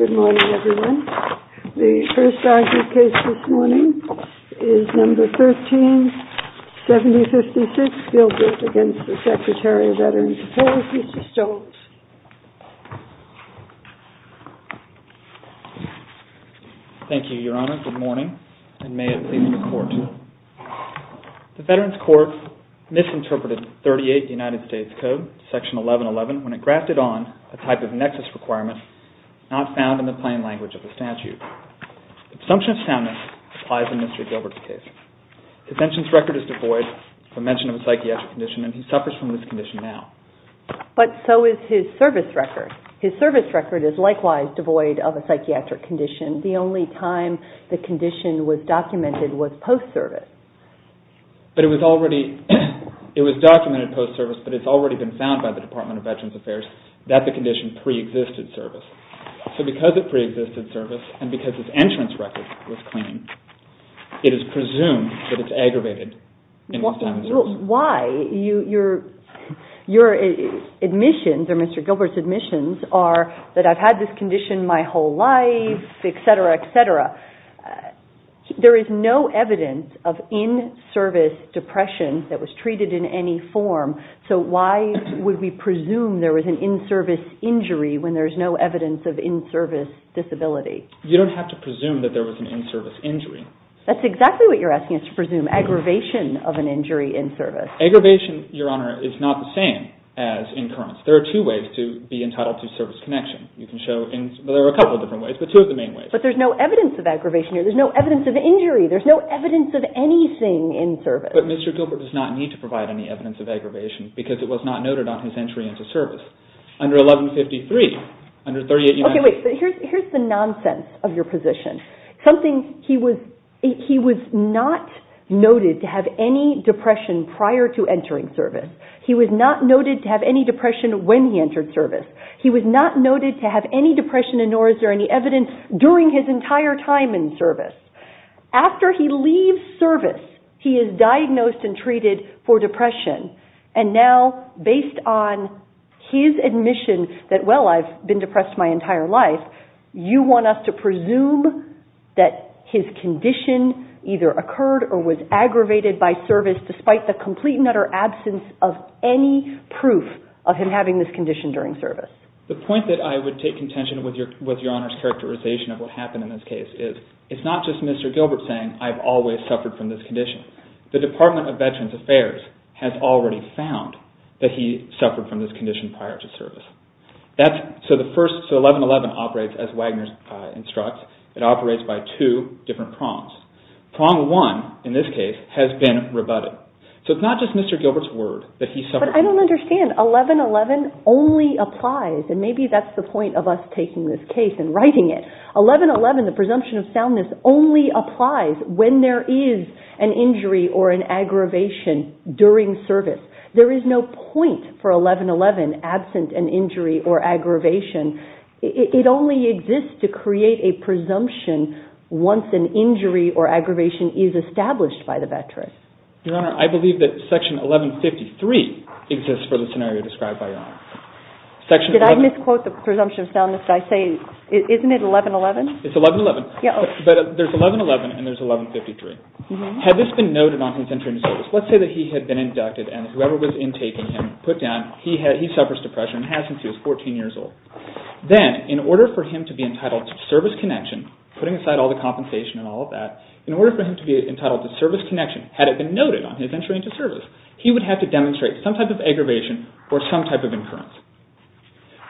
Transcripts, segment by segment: Good morning, everyone. The first argument case this morning is No. 13-7056, Gilbert v. Secretary of Veterans Affairs, Mr. Stoltz. Thank you, Your Honor. Good morning, and may Your Honor, it is my great pleasure to introduce Mr. Stoltz. Mr. Stoltz was the first to interpret 38 United States Code, Section 1111, when it grafted on a type of nexus requirement not found in the plain language of the statute. The assumption of soundness applies in Mr. Gilbert's case. His sentence record is devoid of mention of a psychiatric condition, and he suffers from this condition now. But so is his service record. His service record is likewise devoid of a psychiatric condition. The only time the condition was documented was post-service. But it was already, it was documented post-service, but it's already been found by the Department of Veterans Affairs that the condition pre-existed service. So because it pre-existed service, and because his entrance record was clean, it is presumed that it's aggravated in this time of service. Why? Your admissions, or Mr. Gilbert's admissions, are that I've had this condition my whole life, et cetera, et cetera. There is no evidence of in-service depression that was treated in any form, so why would we presume there was an in-service injury when there is no evidence of in-service disability? You don't have to presume that there was an in-service injury. That's exactly what you're asking us to presume, aggravation of an injury in service. Aggravation, Your Honor, is not the same as incurrence. There are two ways to be entitled to service connection. There are a couple of different ways, but two of the main ways. But there's no evidence of aggravation here. There's no evidence of injury. There's no evidence of anything in service. But Mr. Gilbert does not need to provide any evidence of aggravation because it was not noted on his entry into service. Under 1153, under 38 United States... Okay, wait. Here's the nonsense of your position. He was not noted to have any depression prior to entering service. He was not noted to have any depression when he entered service. He was not noted to have any depression, nor is there any evidence, during his entire time in service. After he leaves service, he is diagnosed and treated for depression. And now, based on his admission that, well, I've been depressed my entire life, you want us to presume that his condition either occurred or was aggravated by service, despite the complete and utter absence of any proof of him having this condition during service. The point that I would take contention with Your Honor's characterization of what happened in this case is, it's not just Mr. Gilbert saying, I've always suffered from this condition. The Department of Veterans Affairs has already found that he suffered from this condition prior to service. So 1111 operates, as Wagner instructs, it operates by two different prongs. Prong one, in this case, has been rebutted. So it's not just Mr. Gilbert's word that he suffered... But I don't understand. 1111 only applies, and maybe that's the point of us taking this case and writing it. 1111, the presumption of soundness, only applies when there is an injury or aggravation. It only exists to create a presumption once an injury or aggravation is established by the veteran. Your Honor, I believe that Section 1153 exists for the scenario described by Your Honor. Did I misquote the presumption of soundness? I say, isn't it 1111? It's 1111. But there's 1111 and there's 1153. Had this been noted on his entry into service, let's say that he had been inducted and whoever was intaking him put down, he suffers depression and has since he was 14 years old. Then, in order for him to be entitled to service connection, putting aside all the compensation and all of that, in order for him to be entitled to service connection, had it been noted on his entry into service, he would have to demonstrate some type of aggravation or some type of incurrence.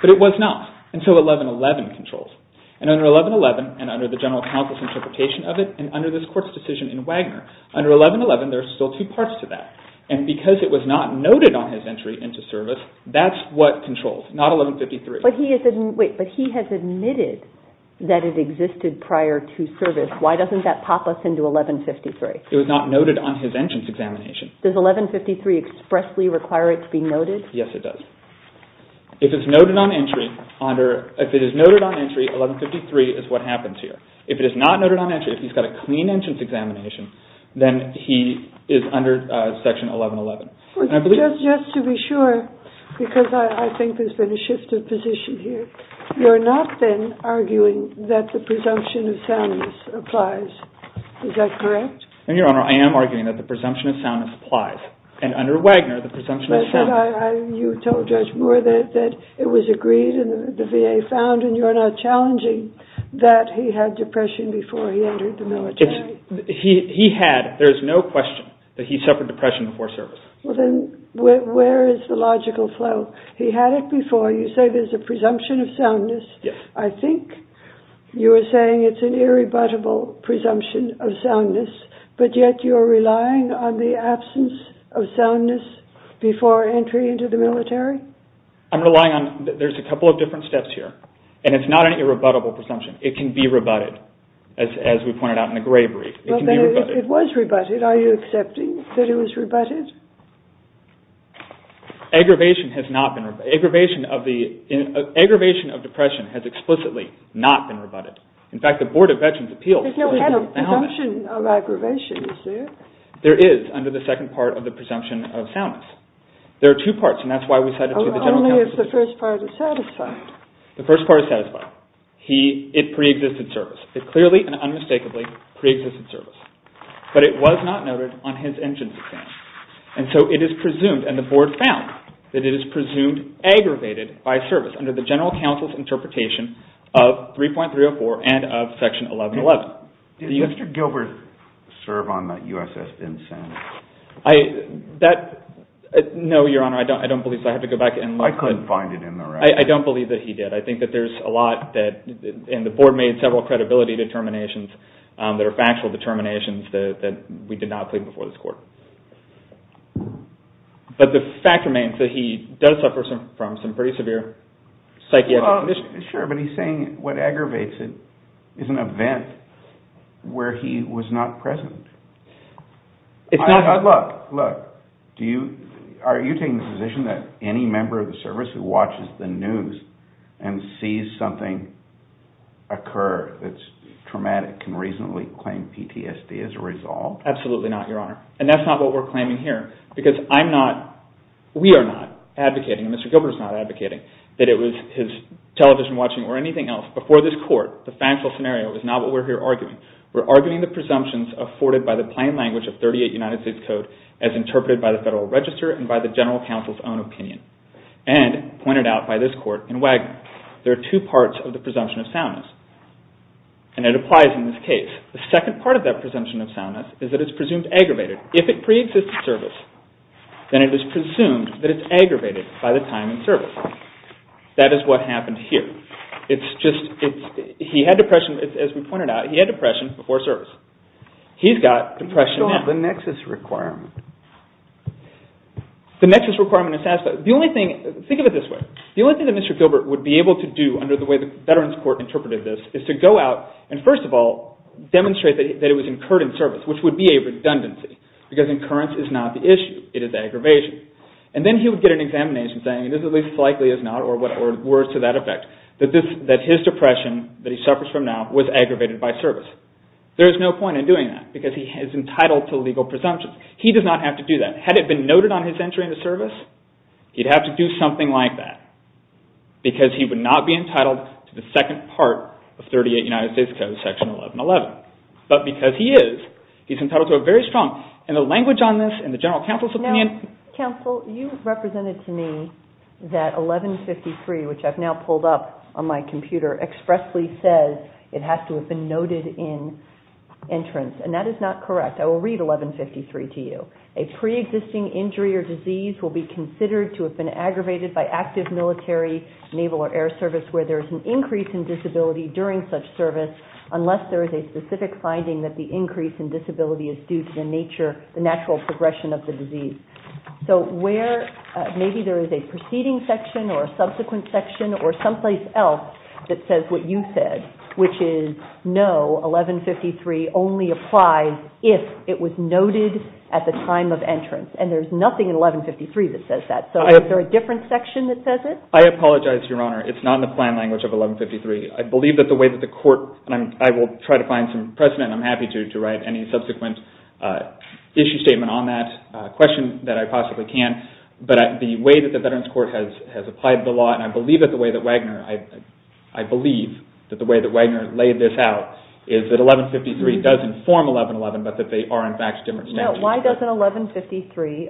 But it was not until 1111 controls. And under 1111, and under the General Counsel's interpretation of it, and under this Court's decision in Wagner, under 1111 there are still two parts to that. And because it was not noted on his entry into service, that's what controls, not 1153. But he has admitted that it existed prior to service. Why doesn't that pop us into 1153? It was not noted on his entrance examination. Does 1153 expressly require it to be noted? Yes, it does. If it is noted on entry, 1153 is what happens here. If it is not noted on entry, if he's got a clean entrance examination, then he is under Section 1111. Just to be sure, because I think there's been a shift of position here, you're not then arguing that the presumption of soundness applies. Is that correct? Your Honor, I am arguing that the presumption of soundness applies. And under Wagner, the presumption of soundness... You told Judge Moore that it was agreed and the VA found, and you're not challenging, that he had depression before he entered the military. He had. There's no question that he suffered depression before service. Well then, where is the logical flow? He had it before. You say there's a presumption of soundness. Yes. I think you're saying it's an irrebuttable presumption of soundness, but yet you're relying on the absence of soundness before entry into the military? I'm relying on... There's a couple of different steps here, and it's not an irrebuttable presumption. It can be rebutted, as we pointed out in the gray brief. It can be rebutted. It was rebutted. Are you accepting that it was rebutted? Aggravation of depression has explicitly not been rebutted. In fact, the Board of Veterans' Appeals... There's no presumption of aggravation, is there? There is, under the second part of the presumption of soundness. There are two parts, and that's why we cited... Only if the first part is satisfied. The first part is satisfied. It pre-existed service. It clearly and unmistakably pre-existed service, but it was not noted on his engines exam. And so it is presumed, and the Board found that it is presumed aggravated by service under the general counsel's interpretation of 3.304 and of Section 1111. Did Mr. Gilbert serve on the USS Dinsanity? No, Your Honor, I don't believe so. I have to go back and look. I couldn't find it in the record. I don't believe that he did. I think that there's a lot that... And the Board made several credibility determinations that are factual determinations that we did not plead before this Court. But the fact remains that he does suffer from some pretty severe psychiatric... Sure, but he's saying what aggravates it is an event where he was not present. Look, look, are you taking the position that any member of the service who watches the news and sees something occur that's traumatic can reasonably claim PTSD as a result? Absolutely not, Your Honor. And that's not what we're claiming here because I'm not... We are not advocating, and Mr. Gilbert is not advocating that it was his television watching or anything else. Before this Court, the factual scenario is not what we're here arguing. We're arguing the presumptions afforded by the plain language of 38 United States Code as interpreted by the Federal Register and by the General Counsel's own opinion and pointed out by this Court in Wagner. There are two parts of the presumption of soundness, and it applies in this case. The second part of that presumption of soundness is that it's presumed aggravated. If it pre-exists the service, then it is presumed that it's aggravated by the time in service. That is what happened here. He had depression, as we pointed out. He had depression before service. He's got depression now. The nexus requirement. The nexus requirement is satisfied. Think of it this way. The only thing that Mr. Gilbert would be able to do under the way the Veterans Court interpreted this is to go out and, first of all, demonstrate that it was incurred in service, which would be a redundancy because incurrence is not the issue. It is aggravation. And then he would get an examination saying, or words to that effect, that his depression, that he suffers from now, was aggravated by service. There is no point in doing that because he is entitled to legal presumptions. He does not have to do that. Had it been noted on his entry into service, he'd have to do something like that because he would not be entitled to the second part of 38 United States Code, Section 1111. But because he is, he's entitled to a very strong, and the language on this and the general counsel's opinion. Counsel, you represented to me that 1153, which I've now pulled up on my computer, expressly says it has to have been noted in entrance. And that is not correct. I will read 1153 to you. A pre-existing injury or disease will be considered to have been aggravated by active military, naval, or air service where there is an increase in disability during such service unless there is a specific finding that the increase in disability is due to the nature, the natural progression of the disease. So where, maybe there is a preceding section or a subsequent section or someplace else that says what you said, which is no, 1153 only applies if it was noted at the time of entrance. And there's nothing in 1153 that says that. So is there a different section that says it? I apologize, Your Honor. It's not in the plan language of 1153. I believe that the way that the court, and I will try to find some precedent, I'm happy to write any subsequent issue statement on that. A question that I possibly can, but the way that the Veterans Court has applied the law, and I believe that the way that Wagner laid this out is that 1153 does inform 1111, but that they are in fact different statutes. No, why doesn't 1153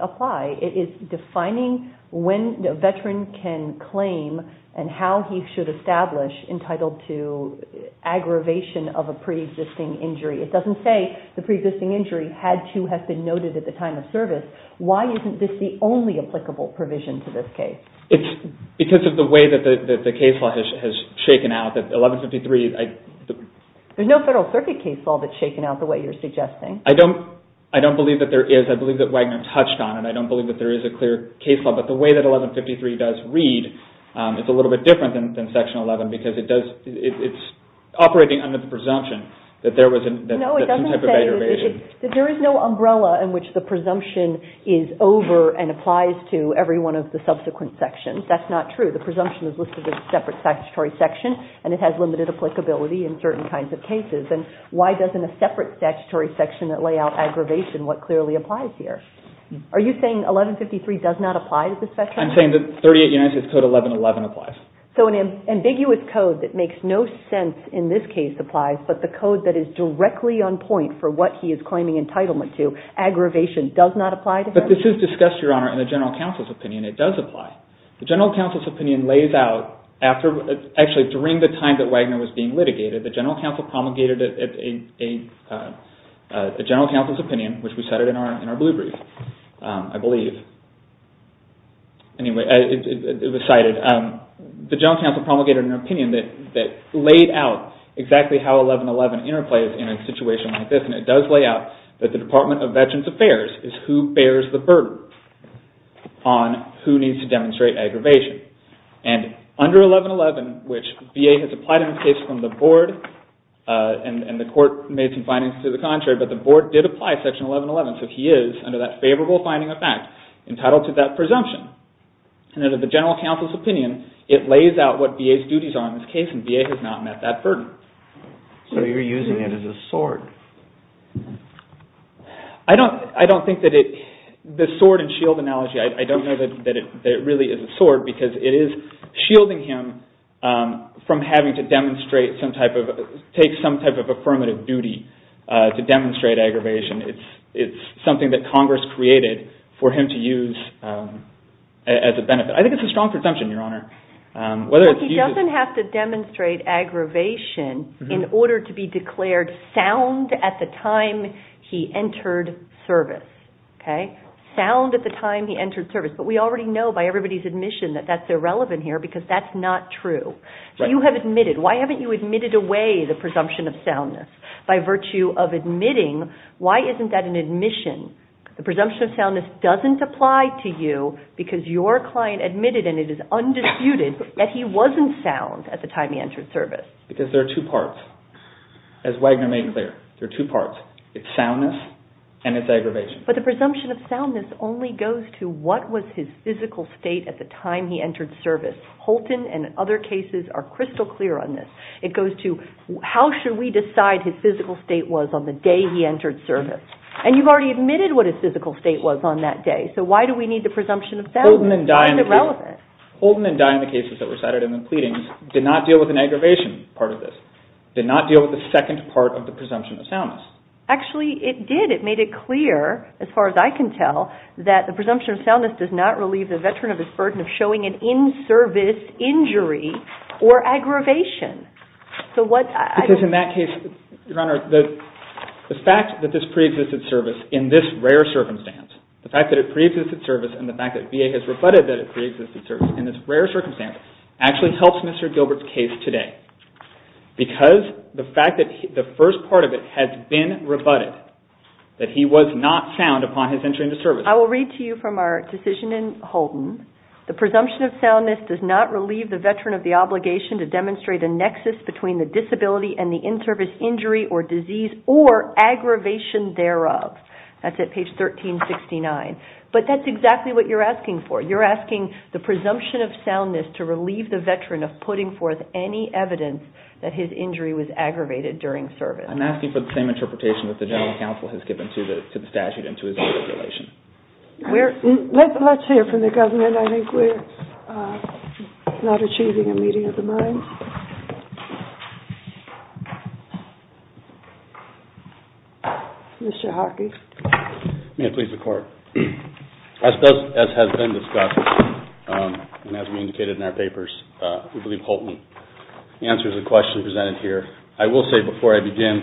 apply? It is defining when a veteran can claim and how he should establish entitled to aggravation of a pre-existing injury. It doesn't say the pre-existing injury had to have been noted at the time of service. Why isn't this the only applicable provision to this case? It's because of the way that the case law has shaken out, that 1153... There's no Federal Circuit case law that's shaken out the way you're suggesting. I don't believe that there is. I believe that Wagner touched on it. I don't believe that there is a clear case law, but the way that 1153 does read, it's a little bit different than Section 11 because it's operating under the presumption that there was some type of aggravation. There is no umbrella in which the presumption is over and applies to every one of the subsequent sections. That's not true. The presumption is listed as a separate statutory section and it has limited applicability in certain kinds of cases. And why doesn't a separate statutory section that lay out aggravation what clearly applies here? Are you saying 1153 does not apply to this veteran? I'm saying that 38 United States Code 1111 applies. So an ambiguous code that makes no sense in this case applies, but the code that is directly on point for what he is claiming entitlement to, aggravation, does not apply to him? But this is discussed, Your Honor, in the General Counsel's opinion. It does apply. The General Counsel's opinion lays out, actually during the time that Wagner was being litigated, the General Counsel promulgated a General Counsel's opinion, which we cited in our blue brief, I believe. Anyway, it was cited. The General Counsel promulgated an opinion that laid out exactly how 1111 interplays in a situation like this. And it does lay out that the Department of Veterans Affairs is who bears the burden on who needs to demonstrate aggravation. And under 1111, which VA has applied in this case from the Board, and the Court made some findings to the contrary, but the Board did apply Section 1111. So he is, under that favorable finding of fact, entitled to that presumption. And under the General Counsel's opinion, it lays out what VA's duties are in this case, and VA has not met that burden. So you're using it as a sword. I don't think that it, the sword and shield analogy, I don't know that it really is a sword, because it is shielding him from having to demonstrate some type of, take some type of affirmative duty to demonstrate aggravation. It's something that Congress created for him to use as a benefit. I think it's a strong presumption, Your Honor. Well, he doesn't have to demonstrate aggravation in order to be declared sound at the time he entered service. Sound at the time he entered service. But we already know by everybody's admission that that's irrelevant here, because that's not true. You have admitted, why haven't you admitted away the presumption of soundness? By virtue of admitting, why isn't that an admission? The presumption of soundness doesn't apply to you because your client admitted, and it is undisputed, that he wasn't sound at the time he entered service. Because there are two parts. As Wagner made clear, there are two parts. It's soundness and it's aggravation. But the presumption of soundness only goes to what was his physical state at the time he entered service. Holton and other cases are crystal clear on this. It goes to how should we decide his physical state was on the day he entered service. And you've already admitted what his physical state was on that day. So why do we need the presumption of soundness? Why is it relevant? Holton and Dye in the cases that were cited in the pleadings did not deal with an aggravation part of this, did not deal with the second part of the presumption of soundness. Actually, it did. It made it clear, as far as I can tell, that the presumption of soundness does not relieve the veteran of his burden of showing an in-service injury or aggravation. Because in that case, Your Honor, the fact that this pre-existed service, in this rare circumstance, the fact that it pre-existed service and the fact that VA has rebutted that it pre-existed service in this rare circumstance, actually helps Mr. Gilbert's case today. Because the fact that the first part of it has been rebutted, that he was not sound upon his entry into service. I will read to you from our decision in Holton. The presumption of soundness does not relieve the veteran of the obligation to demonstrate a nexus between the disability and the in-service injury or disease or aggravation thereof. That's at page 1369. But that's exactly what you're asking for. You're asking the presumption of soundness to relieve the veteran of putting forth any evidence that his injury was aggravated during service. I'm asking for the same interpretation that the general counsel has given to the statute and to his own regulation. Let's hear from the government. I think we're not achieving a meeting of the minds. Mr. Hockey. May I please report? As has been discussed and as we indicated in our papers, we believe Holton answers the question presented here. I will say before I begin,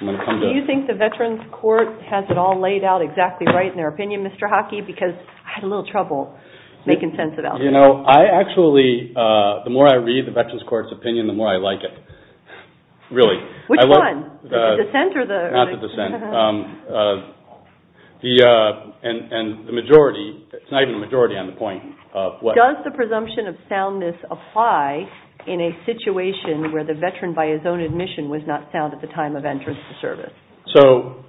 I'm going to come to... Do you think the Veterans Court has it all laid out exactly right in their opinion, Mr. Hockey? Because I had a little trouble making sense about it. You know, I actually... The more I read the Veterans Court's opinion, the more I like it. Really. Which one? The dissent or the... Not the dissent. And the majority... It's not even the majority on the point of what... Does the presumption of soundness apply in a situation where the veteran by his own admission was not sound at the time of entrance to service? So,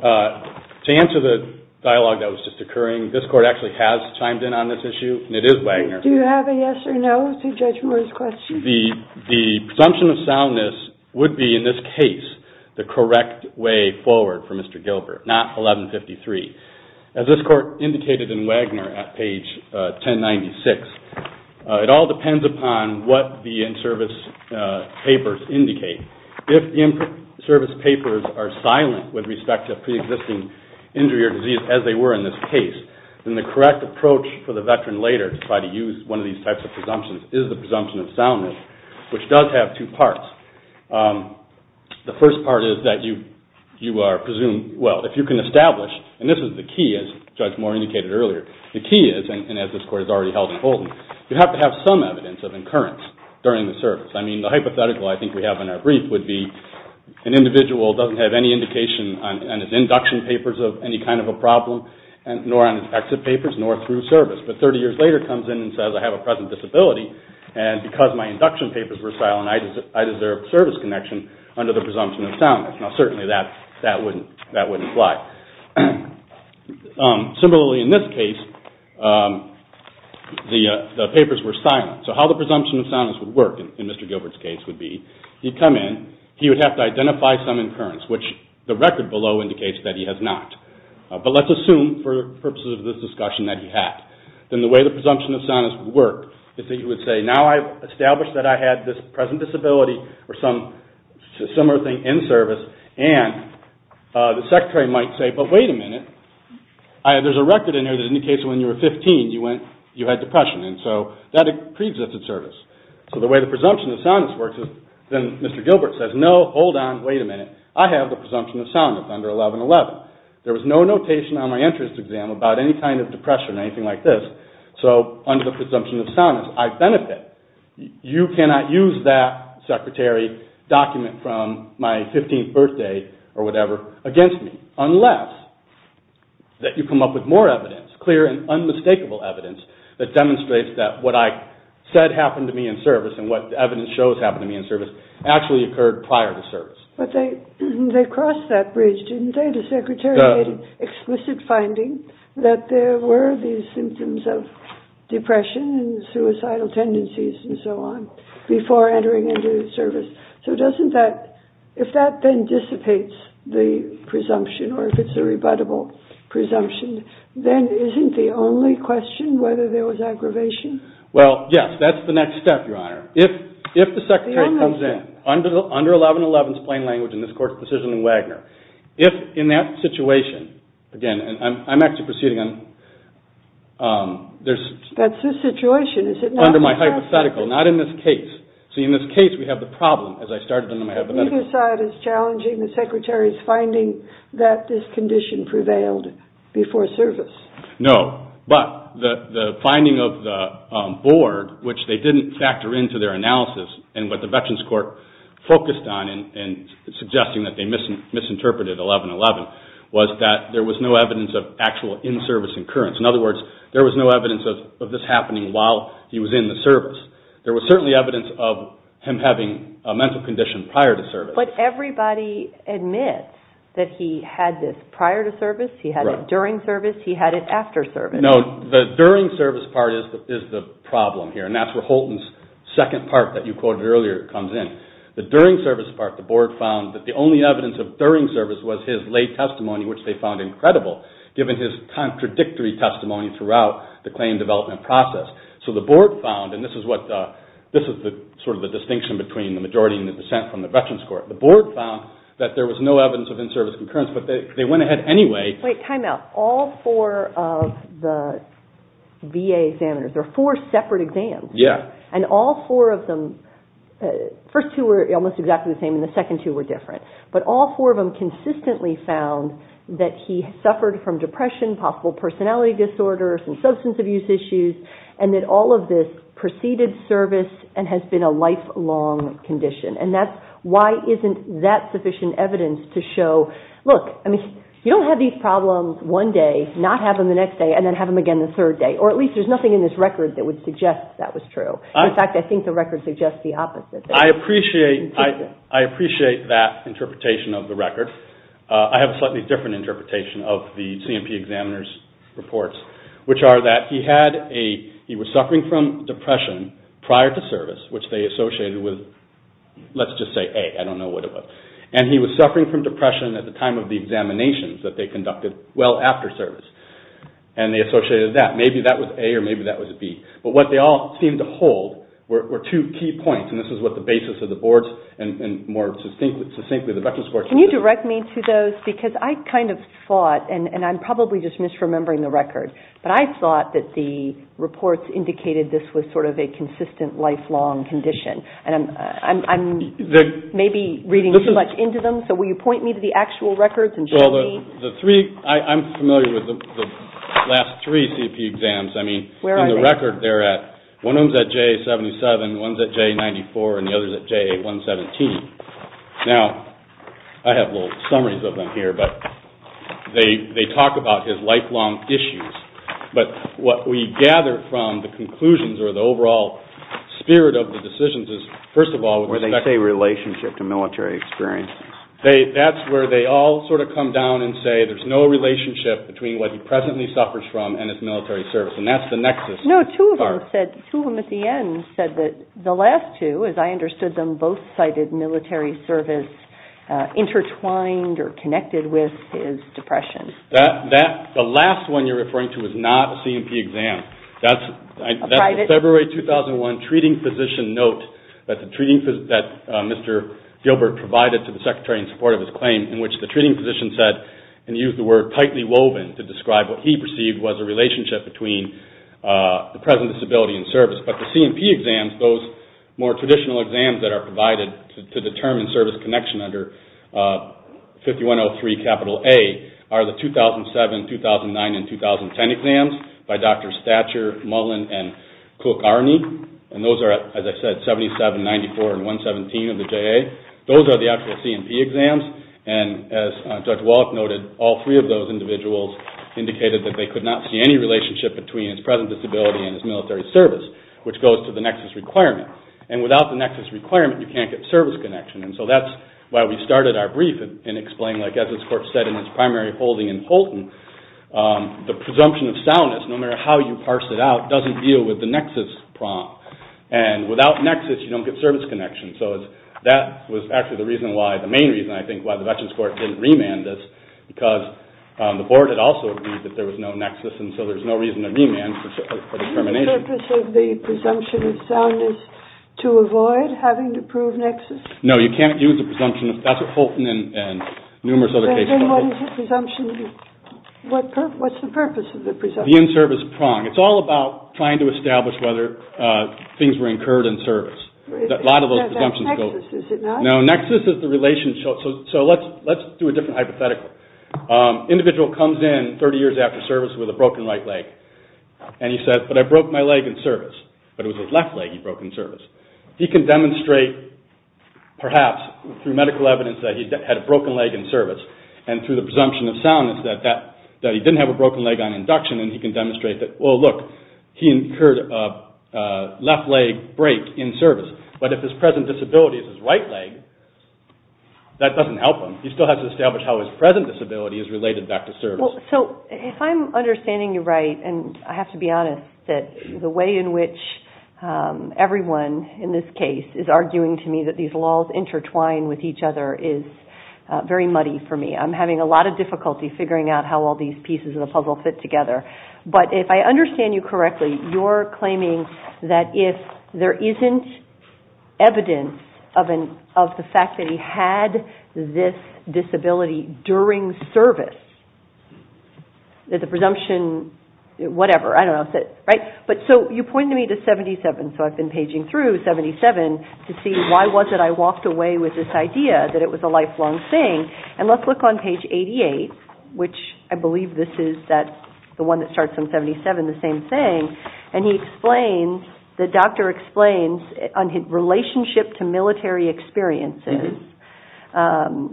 to answer the dialogue that was just occurring, this court actually has chimed in on this issue, and it is Wagner. Do you have a yes or no to Judge Moore's question? The presumption of soundness would be, in this case, the correct way forward for Mr. Gilbert, not 1153. As this court indicated in Wagner at page 1096, it all depends upon what the in-service papers indicate. If the in-service papers are silent with respect to a pre-existing injury or disease, as they were in this case, then the correct approach for the veteran later to try to use one of these types of presumptions is the presumption of soundness, which does have two parts. The first part is that you are presumed... Well, if you can establish, and this is the key, as Judge Moore indicated earlier, the key is, and as this court has already held in Holden, you have to have some evidence of incurrence during the service. I mean, the hypothetical I think we have in our brief would be an individual doesn't have any indication on his induction papers of any kind of a problem, nor on his exit papers, nor through service, but 30 years later comes in and says, I have a present disability, and because my induction papers were silent, I deserve service connection under the presumption of soundness. Now, certainly that wouldn't apply. Similarly, in this case, the papers were silent. So how the presumption of soundness would work in Mr. Gilbert's case would be he'd come in, he would have to identify some incurrence, which the record below indicates that he has not. But let's assume, for purposes of this discussion, that he had. Then the way the presumption of soundness would work is that he would say, now I've established that I had this present disability or some similar thing in service, and the secretary might say, but wait a minute, there's a record in here that indicates that when you were 15 you had depression. And so that pre-exists in service. So the way the presumption of soundness works is then Mr. Gilbert says, no, hold on, wait a minute, I have the presumption of soundness under 1111. There was no notation on my entrance exam about any kind of depression or anything like this, so under the presumption of soundness I benefit. You cannot use that secretary document from my 15th birthday or whatever against me, unless that you come up with more evidence, clear and unmistakable evidence, that demonstrates that what I said happened to me in service and what the evidence shows happened to me in service actually occurred prior to service. But they crossed that bridge, didn't they? The secretary made an explicit finding that there were these symptoms of depression and suicidal tendencies and so on before entering into the service. So if that then dissipates the presumption or if it's a rebuttable presumption, then isn't the only question whether there was aggravation? Well, yes, that's the next step, Your Honor. If the secretary comes in under 1111's plain language in this court's decision in Wagner, if in that situation, again, I'm actually proceeding on... That's the situation, is it not? Under my hypothetical, not in this case. See, in this case we have the problem, as I started in my hypothetical. You saw it as challenging the secretary's finding that this condition prevailed before service. No, but the finding of the board, which they didn't factor into their analysis and what the Veterans Court focused on in suggesting that they misinterpreted 1111 was that there was no evidence of actual in-service incurrence. In other words, there was no evidence of this happening while he was in the service. There was certainly evidence of him having a mental condition prior to service. But everybody admits that he had this prior to service, he had it during service, he had it after service. No, the during service part is the problem here, and that's where Holton's second part that you quoted earlier comes in. The during service part, the board found that the only evidence of during service was his lay testimony, which they found incredible, given his contradictory testimony throughout the claim development process. So the board found, and this is sort of the distinction between the majority and the percent from the Veterans Court, the board found that there was no evidence of in-service concurrence, but they went ahead anyway. Wait, time out. All four of the VA examiners, there are four separate exams. Yeah. And all four of them, the first two were almost exactly the same and the second two were different. But all four of them consistently found that he suffered from depression, possible personality disorders, some substance abuse issues, and that all of this preceded service and has been a lifelong condition. And why isn't that sufficient evidence to show, look, you don't have these problems one day, not have them the next day, and then have them again the third day. Or at least there's nothing in this record that would suggest that was true. In fact, I think the record suggests the opposite. I appreciate that interpretation of the record. I have a slightly different interpretation of the C&P examiner's reports, which are that he was suffering from depression prior to service, which they associated with, let's just say A. I don't know what it was. And he was suffering from depression at the time of the examinations that they conducted well after service. And they associated that. Maybe that was A or maybe that was B. But what they all seemed to hold were two key points, and this is what the basis of the board's and more succinctly the Veterans' Board's position. Can you direct me to those? Because I kind of thought, and I'm probably just misremembering the record, but I thought that the reports indicated this was sort of a consistent, lifelong condition. And I'm maybe reading too much into them, so will you point me to the actual records and show me? Well, I'm familiar with the last three C&P exams. I mean, in the record they're at, one of them's at JA-77, one's at JA-94, and the other's at JA-117. Now, I have little summaries of them here, but they talk about his lifelong issues. But what we gather from the conclusions or the overall spirit of the decisions is, first of all... Where they say relationship to military experience. That's where they all sort of come down and say there's no relationship between what he presently suffers from and his military service, and that's the nexus. No, two of them said, two of them at the end said that the last two, as I understood them, both cited military service intertwined or connected with his depression. The last one you're referring to is not a C&P exam. That's a February 2001 treating physician note that Mr. Gilbert provided to the Secretary in support of his claim, in which the treating physician said and used the word tightly woven to describe what he perceived was a relationship between the present disability and service. But the C&P exams, those more traditional exams that are provided to determine service connection under 5103 A, are the 2007, 2009, and 2010 exams by Drs. Thatcher, Mullen, and Cook-Arney. And those are, as I said, 77, 94, and 117 of the JA. Those are the actual C&P exams. And as Judge Wallach noted, all three of those individuals indicated that they could not see any relationship between his present disability and his military service, which goes to the nexus requirement. And without the nexus requirement, you can't get service connection. And so that's why we started our brief and explained, as the Court said in its primary holding in Holton, the presumption of soundness, no matter how you parse it out, doesn't deal with the nexus problem. And without nexus, you don't get service connection. So that was actually the main reason, I think, why the Veterans Court didn't remand this, because the Board had also agreed that there was no nexus, and so there's no reason to remand for determination. The purpose of the presumption of soundness is to avoid having to prove nexus? No, you can't use the presumption of soundness. That's what Holton and numerous other cases... What's the purpose of the presumption of soundness? The in-service prong. It's all about trying to establish whether things were incurred in service. That nexus, is it not? No, nexus is the relationship... Let's do a different hypothetical. An individual comes in 30 years after service with a broken right leg, and he says, but I broke my leg in service. But it was his left leg he broke in service. He can demonstrate, perhaps, through medical evidence, that he had a broken leg in service, and through the presumption of soundness, that he didn't have a broken leg on induction, and he can demonstrate that he incurred a left leg break in service. But if his present disability is his right leg, that doesn't help him. He still has to establish how his present disability is related back to service. If I'm understanding you right, and I have to be honest, the way in which everyone, in this case, is arguing to me that these laws intertwine with each other is very muddy for me. I'm having a lot of difficulty figuring out how all these pieces of the puzzle fit together, but if I understand you correctly, you're claiming that if there isn't evidence of the fact that he had this disability during service, that the presumption, whatever, I don't know. So you pointed me to 77, so I've been paging through 77 to see why was it I walked away with this idea that it was a lifelong thing, and let's look on page 88, which I believe this is the one that starts on 77, the same thing, and the doctor explains on his relationship to military experiences.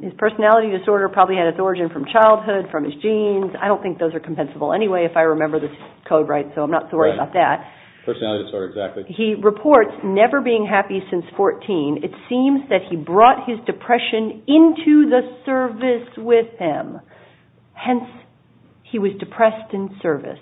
His personality disorder probably had its origin from childhood, from his genes, I don't think those are compensable anyway if I remember this code right, so I'm not sorry about that. He reports never being happy since 14. It seems that he brought his depression into the service with him. Hence, he was depressed in service.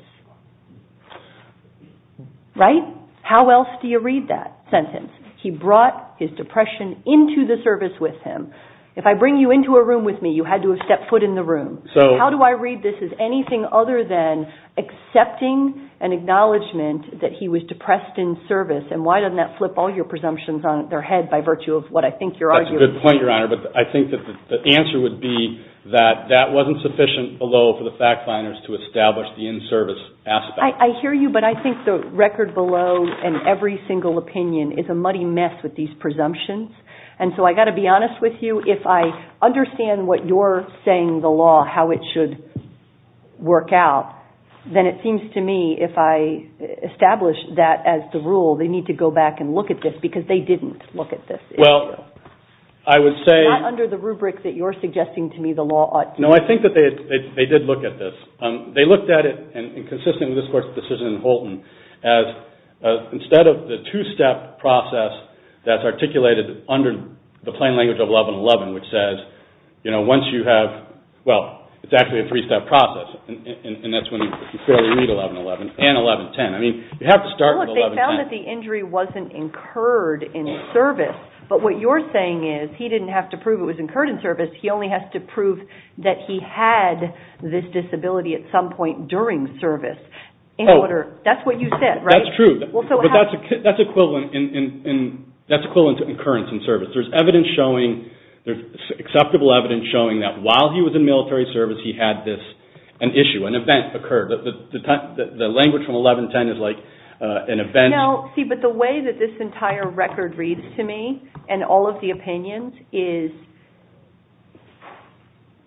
Right? How else do you read that sentence? He brought his depression into the service with him. If I bring you into a room with me, you had to have stepped foot in the room. How do I read this as anything other than accepting an acknowledgment that he was depressed in service, and why doesn't that flip all your presumptions on their head by virtue of what I think you're arguing? That's a good point, Your Honor, but I think that the answer would be that that wasn't sufficient below for the fact finders to establish the in-service aspect. I hear you, but I think the record below in every single opinion is a muddy mess with these presumptions, and so I've got to be honest with you, if I understand what you're saying the law, how it should work out, then it seems to me if I establish that as the rule, they need to go back and look at this because they didn't look at this. Not under the rubric that you're suggesting to me the law ought to. No, I think that they did look at this. They looked at it, and consistent with this Court's decision in Holton, as instead of the two-step process that's articulated under the plain language of 1111, which says once you have, well, it's actually a three-step process, and that's when you clearly read 1111 and 1110. They found that the injury wasn't incurred in service, but what you're saying is he didn't have to prove it was incurred in service, he only has to prove that he had this disability at some point during service. That's what you said, right? That's true, but that's equivalent to incurrence in service. There's evidence showing, there's acceptable evidence showing that while he was in military service he had this, an issue, an event occur. The language from 1110 is like an event. No, see, but the way that this entire record reads to me and all of the opinions is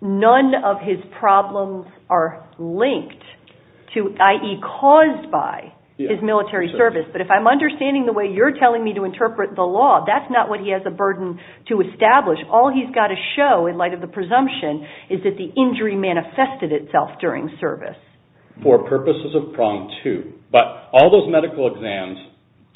none of his problems are linked to, i.e., caused by his military service, but if I'm understanding the way you're telling me to interpret the law, that's not what he has a burden to establish. All he's got to show in light of the presumption is that the injury manifested itself during service. For purposes of prong two, but all those medical exams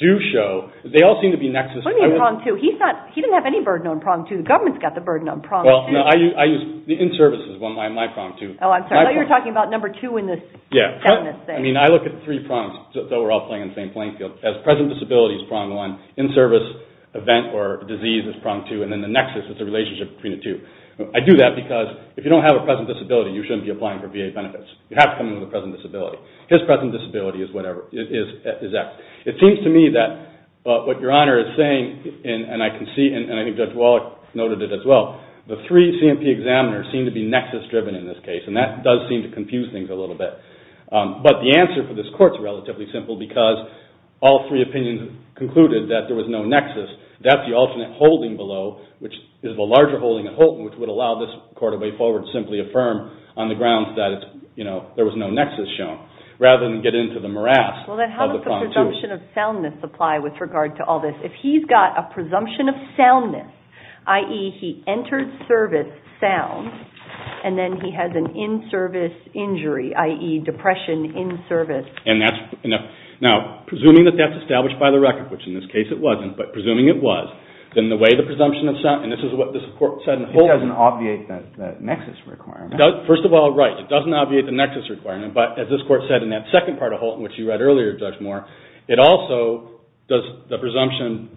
do show, they all seem to be nexus. What do you mean prong two? He didn't have any burden on prong two. The government's got the burden on prong two. I use the in-service as my prong two. I thought you were talking about number two in this. I look at three prongs, though we're all playing in the same playing field, as present disability is prong one, in-service event or disease is prong two, and then the nexus is the relationship between the two. I do that because if you don't have a present disability, you shouldn't be applying for VA benefits. You have to come in with a present disability. His present disability is X. It seems to me that what Your Honor is saying, and I think Judge Wallach noted it as well, the three C&P examiners seem to be nexus-driven in this case, and that does seem to confuse things a little bit. But the answer for this court is relatively simple because all three opinions concluded that there was no nexus. That's the alternate holding below, which is the larger holding at Houlton, which would allow this court to simply affirm on the grounds that there was no nexus shown, rather than get into the morass of the prong two. How does the presumption of soundness apply with regard to all this? If he's got a presumption of soundness, i.e. he entered service sound, and then he has an in-service injury, i.e. depression in-service. Now, presuming that that's established by the record, which in this case it wasn't, but presuming it was, then the way the presumption of soundness, and this is what this court said in Houlton. It doesn't obviate that nexus requirement. First of all, right, it doesn't obviate the nexus requirement, but as this court said in that second part of Houlton, which you read earlier, Judge Moore, it also does the presumption,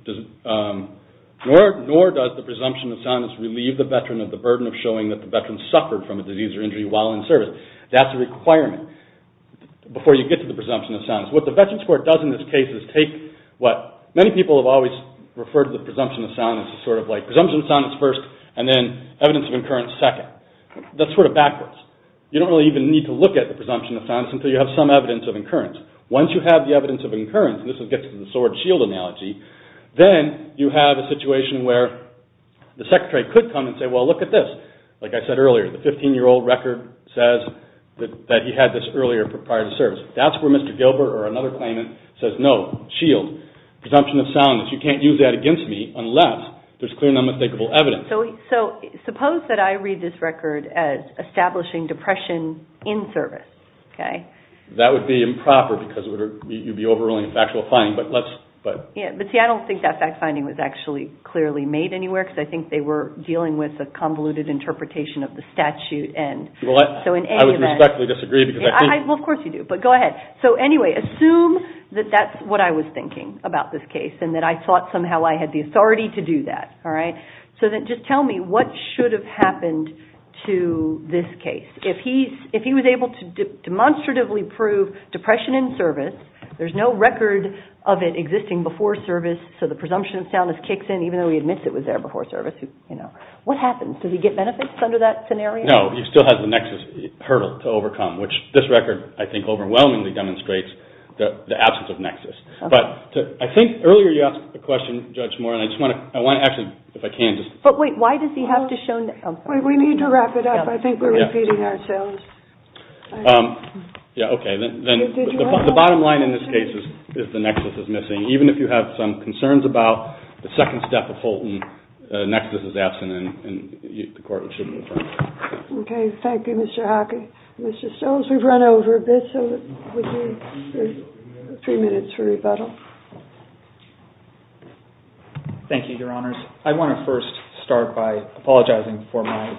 nor does the presumption of soundness relieve the veteran of the burden of showing that the veteran suffered from a disease or injury while in service. That's a requirement before you get to the presumption of soundness. What the Veterans Court does in this case is take what many people have always referred to the presumption of soundness as sort of like, presumption of soundness first, and then evidence of incurrence second. That's sort of backwards. You don't really even need to look at the presumption of soundness until you have some evidence of incurrence. Once you have the evidence of incurrence, and this gets to the sword-shield analogy, then you have a situation where the secretary could come and say, well, look at this, like I said earlier, the 15-year-old record says that he had this earlier prior to service. That's where Mr. Gilbert or another claimant says, no, shield, presumption of soundness, you can't use that against me unless there's clear and unmistakable evidence. So suppose that I read this record as establishing depression in service. That would be improper because you'd be overruling a factual finding. But see, I don't think that fact-finding was actually clearly made anywhere because I think they were dealing with a convoluted interpretation of the statute. I would respectfully disagree. Well, of course you do, but go ahead. So anyway, assume that that's what I was thinking about this case and that I thought somehow I had the authority to do that. So then just tell me what should have happened to this case. If he was able to demonstratively prove depression in service, there's no record of it existing before service, so the presumption of soundness kicks in even though he admits it was there before service, what happens? Does he get benefits under that scenario? No, he still has the nexus hurdle to overcome, which this record, I think, overwhelmingly demonstrates the absence of nexus. But I think earlier you asked a question, Judge Moore, and I want to actually, if I can just – But wait, why does he have to show – We need to wrap it up. I think we're repeating ourselves. Yeah, okay. The bottom line in this case is the nexus is missing. Even if you have some concerns about the second step of Houlton, the nexus is absent and the court should move on. Okay, thank you, Mr. Hockey. Mr. Stones, we've run over a bit, so we need three minutes for rebuttal. Thank you, Your Honors. I want to first start by apologizing for my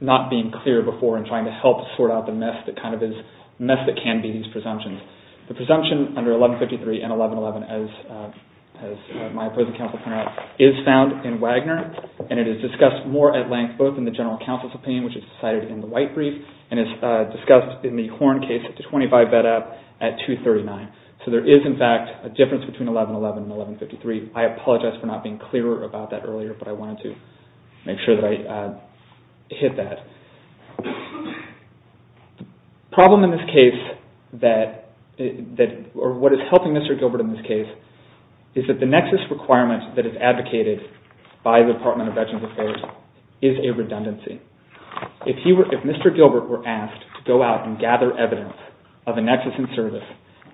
not being clear before and trying to help sort out the mess that kind of is – mess that can be these presumptions. The presumption under 1153 and 1111, as my opposing counsel pointed out, is found in Wagner, and it is discussed more at length both in the general counsel's opinion, which is cited in the white brief, and is discussed in the Horn case at 239. So there is, in fact, a difference between 1111 and 1153. I apologize for not being clearer about that earlier, but I wanted to make sure that I hit that. The problem in this case that – or what is helping Mr. Gilbert in this case is that the nexus requirement that is advocated by the Department of Veterans Affairs is a redundancy. If Mr. Gilbert were asked to go out and gather evidence of a nexus in service,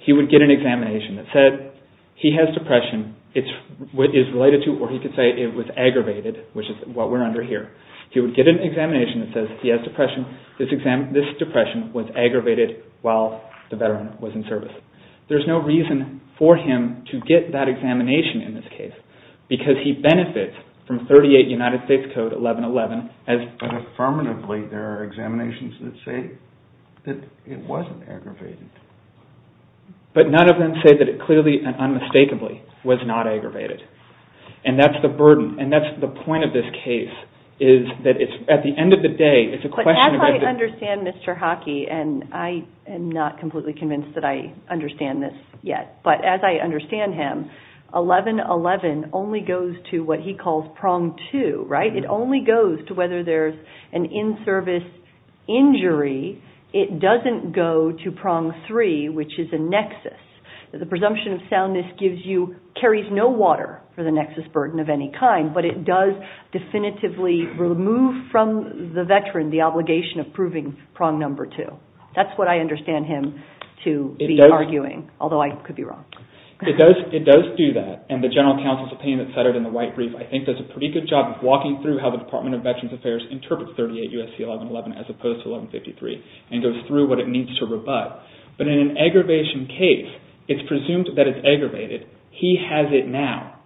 he would get an examination that said he has depression. It is related to – or he could say it was aggravated, which is what we're under here. He would get an examination that says he has depression. This depression was aggravated while the veteran was in service. There's no reason for him to get that examination in this case because he benefits from 38 United States Code 1111 as – But affirmatively, there are examinations that say that it wasn't aggravated. But none of them say that it clearly and unmistakably was not aggravated, and that's the burden, and that's the point of this case is that it's – at the end of the day, it's a question of – I understand Mr. Hockey, and I am not completely convinced that I understand this yet. But as I understand him, 1111 only goes to what he calls prong two, right? It only goes to whether there's an in-service injury. It doesn't go to prong three, which is a nexus. The presumption of soundness gives you – carries no water for the nexus burden of any kind, but it does definitively remove from the veteran the obligation of proving prong number two. That's what I understand him to be arguing, although I could be wrong. It does do that, and the general counsel's opinion that's uttered in the White Brief, I think, does a pretty good job of walking through how the Department of Veterans Affairs interprets 38 U.S.C. 1111 as opposed to 1153 and goes through what it needs to rebut. But in an aggravation case, it's presumed that it's aggravated. He has it now.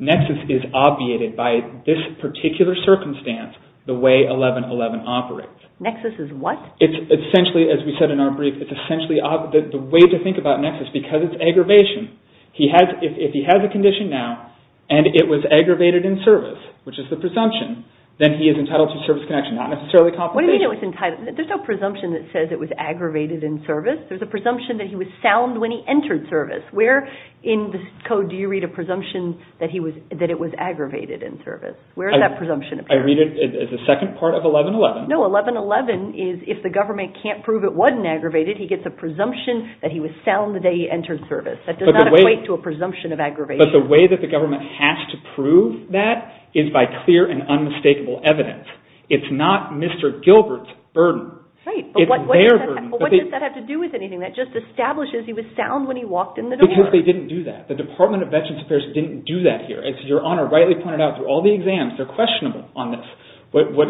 Nexus is obviated by this particular circumstance, the way 1111 operates. Nexus is what? It's essentially, as we said in our brief, it's essentially the way to think about nexus, because it's aggravation. If he has a condition now and it was aggravated in service, which is the presumption, then he is entitled to service connection, not necessarily compensation. What do you mean it was entitled? There's no presumption that says it was aggravated in service. There's a presumption that he was sound when he entered service. Where in the code do you read a presumption that it was aggravated in service? Where does that presumption appear? I read it as the second part of 1111. No, 1111 is if the government can't prove it wasn't aggravated, he gets a presumption that he was sound the day he entered service. That does not equate to a presumption of aggravation. But the way that the government has to prove that is by clear and unmistakable evidence. It's not Mr. Gilbert's burden. It's their burden. But what does that have to do with anything? That just establishes he was sound when he walked in the door. Because they didn't do that. The Department of Veterans Affairs didn't do that here. As Your Honor rightly pointed out, through all the exams, they're questionable on this. But what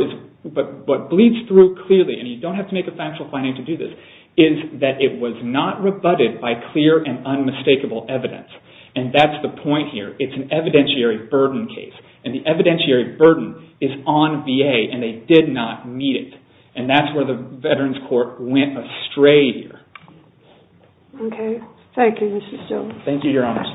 bleeds through clearly, and you don't have to make a factual finding to do this, is that it was not rebutted by clear and unmistakable evidence. And that's the point here. It's an evidentiary burden case. And the evidentiary burden is on VA and they did not meet it. And that's where the Veterans Court went astray here. Okay. Thank you, Mr. Stewart. Thank you, Your Honor.